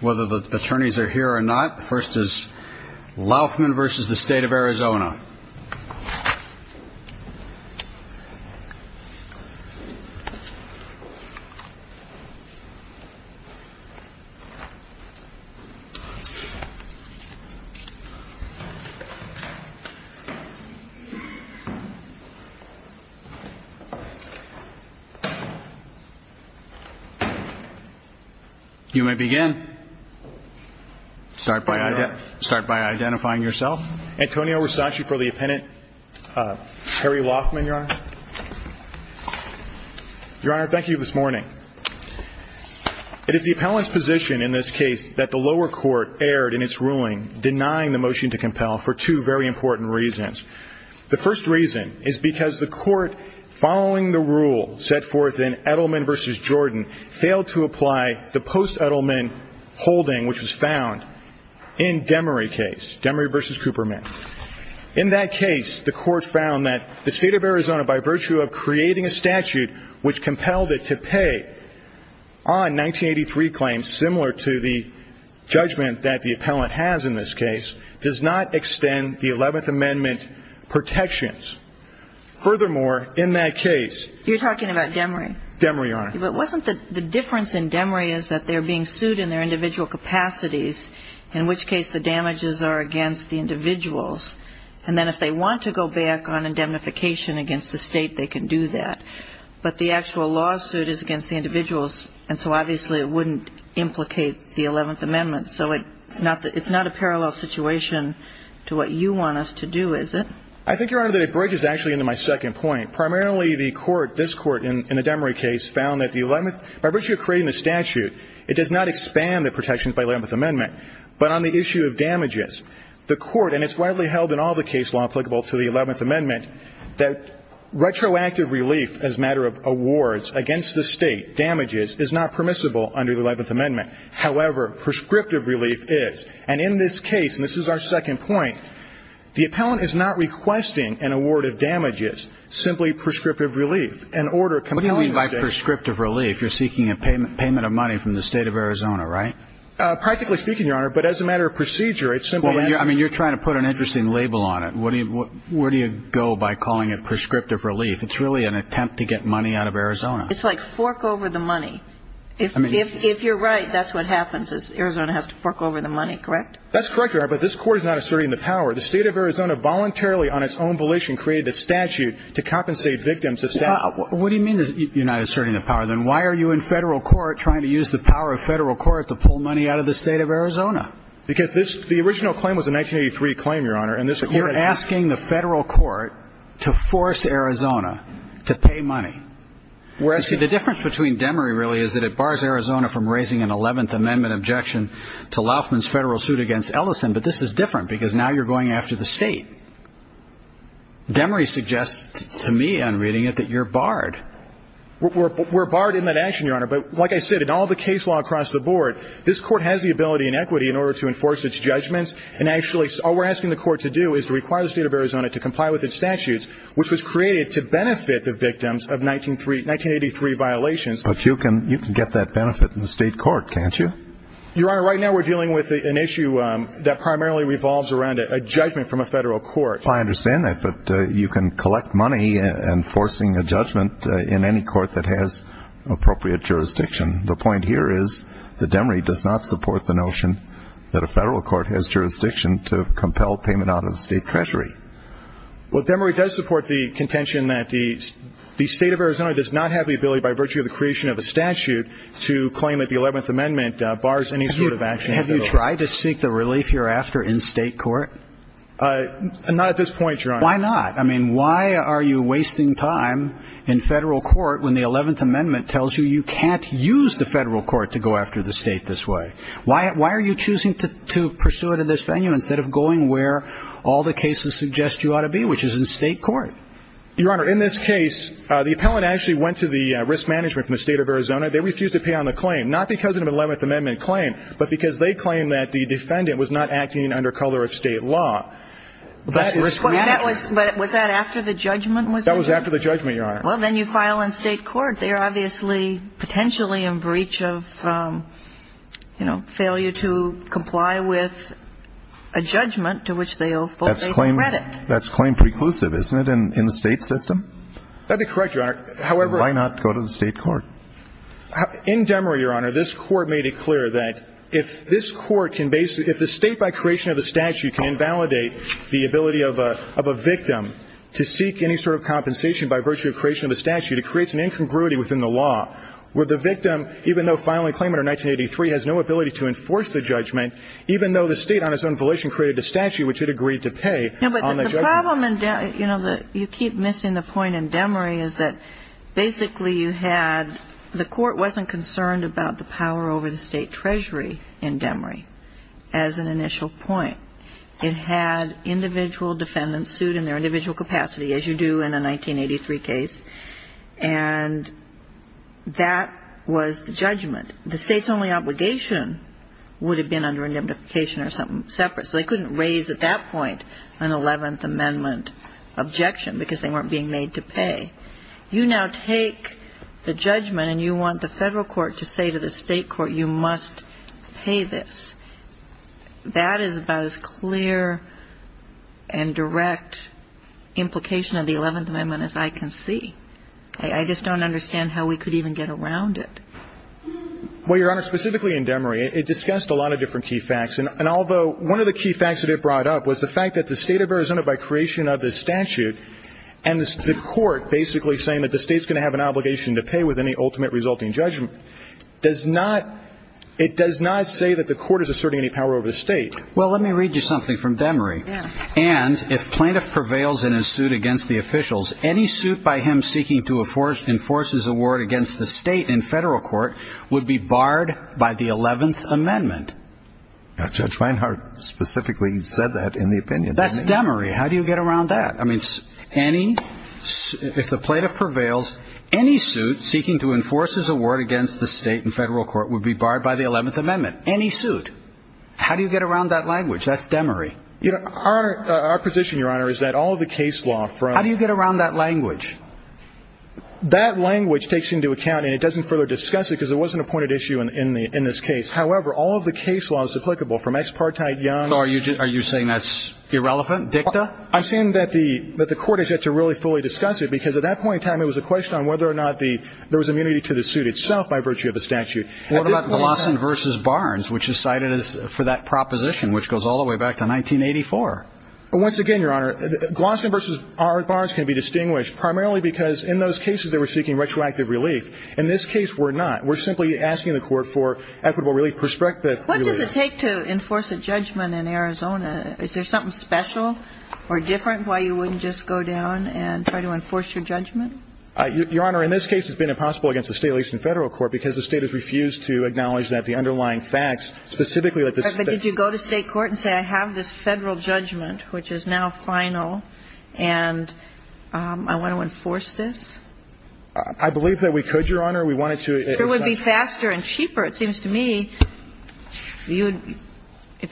Whether the attorneys are here or not, first is Laufman v. The State of Arizona. You may begin. Start by identifying yourself. Antonio Versace for the appendant. Harry Laufman, Your Honor. Your Honor, thank you for this morning. It is the appellant's position in this case that the lower court erred in its ruling, denying the motion to compel for two very important reasons. The first reason is because the court, following the rule set forth in Edelman v. Jordan, failed to apply the post-Edelman holding which was found in Demery case, Demery v. Cooperman. In that case, the court found that the State of Arizona, by virtue of creating a statute which compelled it to pay on 1983 claims, similar to the judgment that the appellant has in this case, does not extend the 11th Amendment protections. Furthermore, in that case, You're talking about Demery? Demery, Your Honor. But wasn't the difference in Demery is that they're being sued in their individual capacities, in which case the damages are against the individuals. And then if they want to go back on indemnification against the State, they can do that. But the actual lawsuit is against the individuals, and so obviously it wouldn't implicate the 11th Amendment. So it's not a parallel situation to what you want us to do, is it? I think, Your Honor, that it bridges actually into my second point. Primarily the court, this court in the Demery case, found that by virtue of creating the statute, it does not expand the protections by the 11th Amendment. But on the issue of damages, the court, and it's widely held in all the case law applicable to the 11th Amendment, that retroactive relief as a matter of awards against the State damages is not permissible under the 11th Amendment. However, prescriptive relief is. And in this case, and this is our second point, the appellant is not requesting an award of damages, simply prescriptive relief. An order compelling the State. What do you mean by prescriptive relief? You're seeking a payment of money from the State of Arizona, right? Practically speaking, Your Honor, but as a matter of procedure, it's simply... I mean, you're trying to put an interesting label on it. Where do you go by calling it prescriptive relief? It's really an attempt to get money out of Arizona. It's like fork over the money. If you're right, that's what happens is Arizona has to fork over the money, correct? That's correct, Your Honor, but this Court is not asserting the power. The State of Arizona voluntarily on its own volition created a statute to compensate victims of statutes. What do you mean you're not asserting the power? Then why are you in Federal court trying to use the power of Federal court to pull money out of the State of Arizona? Because the original claim was a 1983 claim, Your Honor, and this Court... You're asking the Federal court to force Arizona to pay money. You see, the difference between Demery, really, is that it bars Arizona from raising an 11th Amendment objection to Laufman's Federal suit against Ellison, but this is different because now you're going after the State. Demery suggests to me on reading it that you're barred. We're barred in that action, Your Honor, but like I said, in all the case law across the board, this Court has the ability and equity in order to enforce its judgments, and actually all we're asking the Court to do is to require the State of Arizona to comply with its statutes, which was created to benefit the victims of 1983 violations. But you can get that benefit in the State court, can't you? Your Honor, right now we're dealing with an issue that primarily revolves around a judgment from a Federal court. I understand that, but you can collect money enforcing a judgment in any court that has appropriate jurisdiction. The point here is that Demery does not support the notion that a Federal court has jurisdiction to compel payment out of the State Treasury. Well, Demery does support the contention that the State of Arizona does not have the ability by virtue of the creation of a statute to claim that the 11th Amendment bars any sort of action. Have you tried to seek the relief you're after in State court? Not at this point, Your Honor. Why not? I mean, why are you wasting time in Federal court when the 11th Amendment tells you you can't use the Federal court to go after the State this way? Why are you choosing to pursue it in this venue instead of going where all the cases suggest you ought to be, which is in State court? Your Honor, in this case, the appellant actually went to the risk management from the State of Arizona. They refused to pay on the claim, not because of an 11th Amendment claim, but because they claimed that the defendant was not acting under color of State law. That's risk management. But was that after the judgment? That was after the judgment, Your Honor. Well, then you file in State court. They are obviously potentially in breach of, you know, failure to comply with a judgment That's claim preclusive, isn't it, in the State system? That'd be correct, Your Honor. However Why not go to the State court? In Demery, Your Honor, this Court made it clear that if this Court can basically If the State by creation of a statute can invalidate the ability of a victim to seek any sort of compensation by virtue of creation of a statute, it creates an incongruity within the law where the victim, even though filing a claim under 1983, has no ability to enforce the judgment, even though the State on its own volition created a statute which it agreed to pay on the judgment. But the problem in Demery, you know, you keep missing the point in Demery is that basically you had, the Court wasn't concerned about the power over the State treasury in Demery as an initial point. It had individual defendants sued in their individual capacity, as you do in a 1983 case, and that was the judgment. The State's only obligation would have been under indemnification or something separate, so they couldn't raise at that point an Eleventh Amendment objection because they weren't being made to pay. You now take the judgment and you want the Federal court to say to the State court you must pay this. That is about as clear and direct implication of the Eleventh Amendment as I can see. I just don't understand how we could even get around it. Well, Your Honor, specifically in Demery, it discussed a lot of different key facts, and although one of the key facts that it brought up was the fact that the State of Arizona, by creation of the statute and the Court basically saying that the State's going to have an obligation to pay with any ultimate resulting judgment, does not, it does not say that the Court is asserting any power over the State. Well, let me read you something from Demery. And if plaintiff prevails in his suit against the officials, any suit by him seeking to enforce his award against the State in Federal court would be barred by the Eleventh Amendment. Judge Reinhart specifically said that in the opinion. That's Demery. How do you get around that? I mean, any, if the plaintiff prevails, any suit seeking to enforce his award against the State in Federal court would be barred by the Eleventh Amendment. Any suit. How do you get around that language? That's Demery. Our position, Your Honor, is that all of the case law from How do you get around that language? That language takes into account, and it doesn't further discuss it because it wasn't a pointed issue in this case. However, all of the case law is applicable from expartite, young. So are you saying that's irrelevant, dicta? I'm saying that the Court has yet to really fully discuss it because at that point in time, it was a question on whether or not there was immunity to the suit itself by virtue of the statute. What about Glossin v. Barnes, which is cited for that proposition, which goes all the way back to 1984? Once again, Your Honor, Glossin v. Barnes can be distinguished primarily because in those cases, they were seeking retroactive relief. In this case, we're not. But it's important to understand that there was no retroactive relief that was There is a fair amount of evidence in the court for equitable relief. Prospective relief. What does it take to enforce a judgment in Arizona? Is there something special or different why you wouldn't just go down and try to enforce your judgment? Your Honor, in this case, it's been impossible against the state, at least in federal court because the state has refused to acknowledge that the underlying facts specifically that this state Did you go to State court and say, I have this federal judgment, which is now final, and I want to enforce this? I believe that we could, Your Honor. We wanted to It would be faster and cheaper, it seems to me. If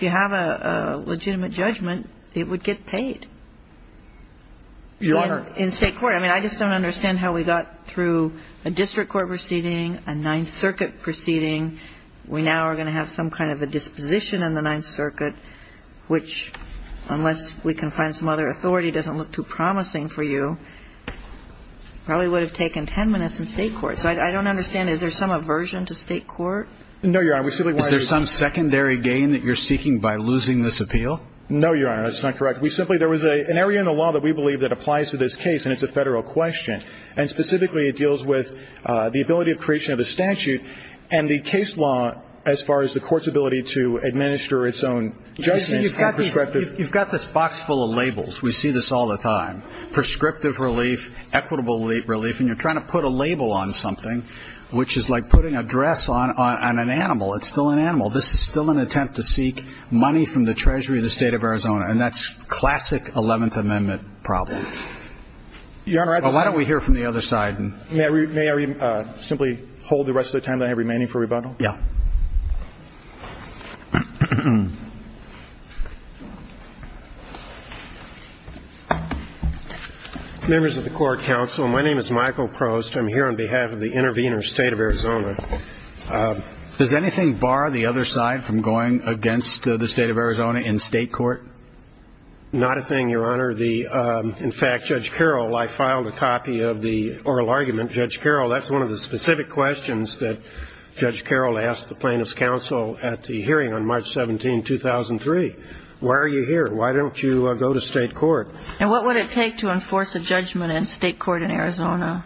you have a legitimate judgment, it would get paid. Your Honor In state court. I mean, I just don't understand how we got through a district court proceeding, a Ninth Circuit proceeding. We now are going to have some kind of a disposition in the Ninth Circuit, which, unless we can find some other authority, doesn't look too promising for you. Probably would have taken ten minutes in state court. So I don't understand. Is there some aversion to state court? No, Your Honor. Is there some secondary gain that you're seeking by losing this appeal? No, Your Honor. That's not correct. We simply, there was an area in the law that we believe that applies to this case, and it's a federal question. And specifically, it deals with the ability of creation of a statute, and the case law as far as the court's ability to administer its own judgments. You've got this box full of labels. We see this all the time. Prescriptive relief, equitable relief, and you're trying to put a label on something, which is like putting a dress on an animal. It's still an animal. This is still an attempt to seek money from the treasury of the state of Arizona, and that's classic Eleventh Amendment problems. Your Honor, that's May I simply hold the rest of the time that I have remaining for rebundal? Yeah. Members of the Court of Counsel, my name is Michael Prost. I'm here on behalf of the Intervenor State of Arizona. Does anything bar the other side from going against the state of Arizona in state court? Not a thing, Your Honor. In fact, Judge Carroll, I filed a copy of the oral argument. Judge Carroll, that's one of the specific questions that Judge Carroll asked the plaintiff's counsel at the hearing on March 17, 2003. Why are you here? Why don't you go to state court? And what would it take to enforce a judgment in state court in Arizona?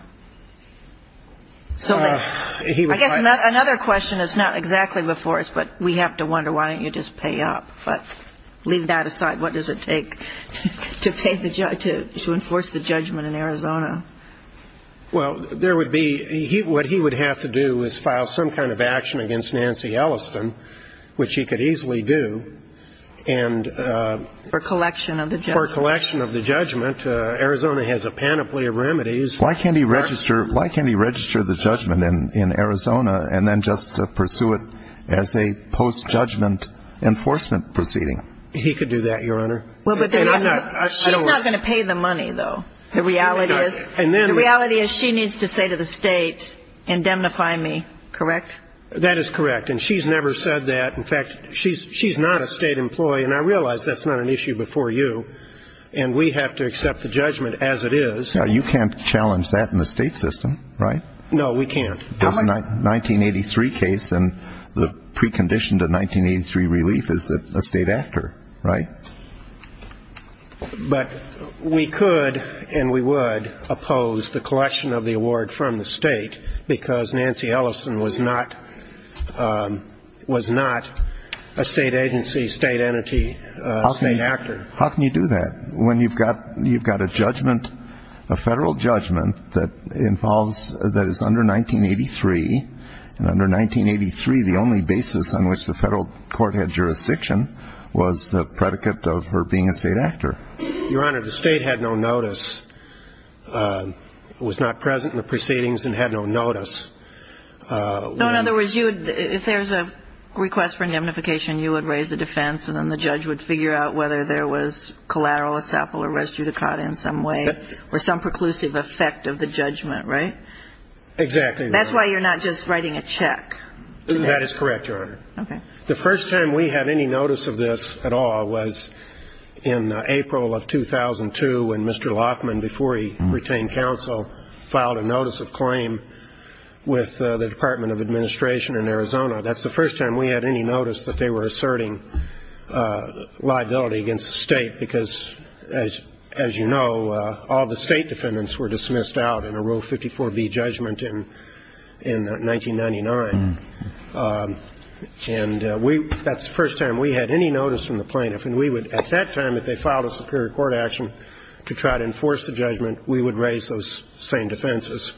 I guess another question that's not exactly before us, but we have to wonder, why don't you just pay up? Leave that aside. What does it take to enforce the judgment in Arizona? Well, there would be what he would have to do is file some kind of action against Nancy Elliston, which he could easily do. For collection of the judgment. For collection of the judgment. Arizona has a panoply of remedies. Why can't he register the judgment in Arizona and then just pursue it as a post-judgment enforcement proceeding? He could do that, Your Honor. She's not going to pay the money, though. The reality is she needs to say to the state, indemnify me, correct? That is correct, and she's never said that. In fact, she's not a state employee, and I realize that's not an issue before you, and we have to accept the judgment as it is. You can't challenge that in the state system, right? No, we can't. There's a 1983 case, and the precondition to 1983 relief is a state actor, right? But we could and we would oppose the collection of the award from the state because Nancy Elliston was not a state agency, state entity, state actor. How can you do that? When you've got a judgment, a federal judgment that involves, that is under 1983, and under 1983 the only basis on which the federal court had jurisdiction was the predicate of her being a state actor. Your Honor, the state had no notice, was not present in the proceedings and had no notice. No, in other words, if there's a request for indemnification, you would raise a defense and then the judge would figure out whether there was collateral essapol or res judicata in some way or some preclusive effect of the judgment, right? Exactly. That's why you're not just writing a check. That is correct, Your Honor. Okay. The first time we had any notice of this at all was in April of 2002 when Mr. Loffman, before he retained counsel, filed a notice of claim with the Department of Administration in Arizona. That's the first time we had any notice that they were asserting liability against the state because, as you know, all the state defendants were dismissed out in a Rule 54B judgment in 1999. And that's the first time we had any notice from the plaintiff. And we would, at that time, if they filed a superior court action to try to enforce the judgment, we would raise those same defenses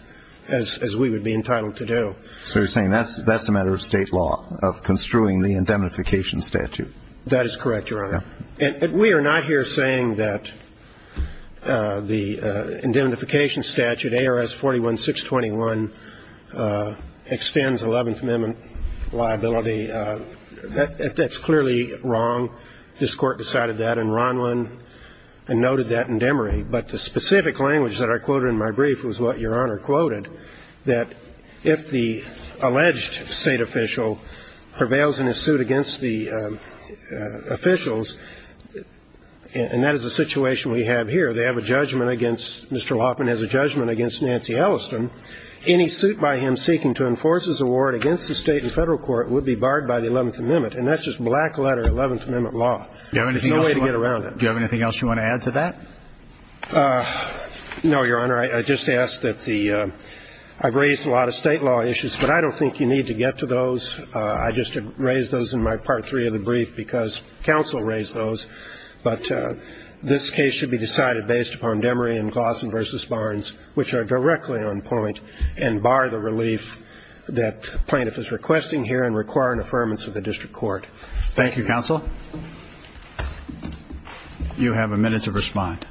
as we would be entitled to do. So you're saying that's a matter of state law, of construing the indemnification statute. That is correct, Your Honor. And we are not here saying that the indemnification statute, ARS 41-621, extends 11th Amendment liability. That's clearly wrong. This Court decided that in Ronlon and noted that indemnity. I'm sorry. But the specific language that I quoted in my brief was what Your Honor quoted, that if the alleged state official prevails in a suit against the officials, and that is the situation we have here, they have a judgment against Mr. Loffman has a judgment against Nancy Elliston, any suit by him seeking to enforce his award against the state and federal court would be barred by the 11th Amendment. And that's just black-letter 11th Amendment law. There's no way to get around it. Do you have anything else you want to add to that? No, Your Honor. I just asked that the ‑‑ I've raised a lot of state law issues, but I don't think you need to get to those. I just raised those in my part three of the brief because counsel raised those. But this case should be decided based upon Demery and Glossen v. Barnes, which are directly on point and bar the relief that plaintiff is requesting here and require an affirmance of the district court. Thank you, counsel. You have a minute to respond.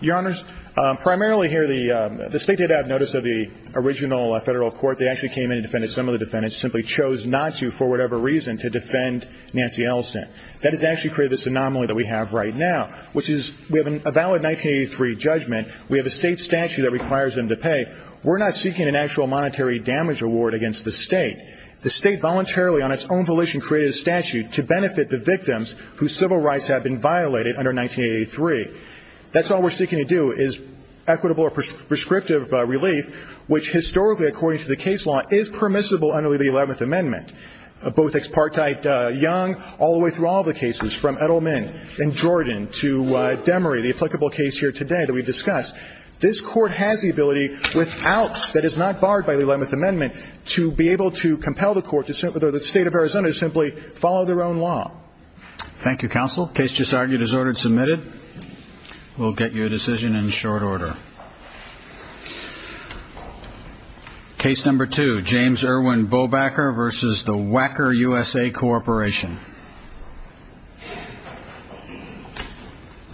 Your Honors, primarily here the state did have notice of the original federal court. They actually came in and defended some of the defendants, simply chose not to for whatever reason to defend Nancy Ellison. That has actually created this anomaly that we have right now, which is we have a valid 1983 judgment. We have a state statute that requires them to pay. We're not seeking an actual monetary damage award against the state. The state voluntarily, on its own volition, created a statute to benefit the victims whose civil rights have been violated under 1983. That's all we're seeking to do is equitable or prescriptive relief, which historically, according to the case law, is permissible under the 11th Amendment. Both Expartheid Young, all the way through all the cases, from Edelman in Jordan to Demery, the applicable case here today that we've discussed, this court has the ability without, that is not barred by the 11th Amendment, to be able to compel the state of Arizona to simply follow their own law. Thank you, counsel. The case just argued is ordered and submitted. We'll get your decision in short order. Case number two, James Irwin Bobacker v. the Wacker USA Corporation.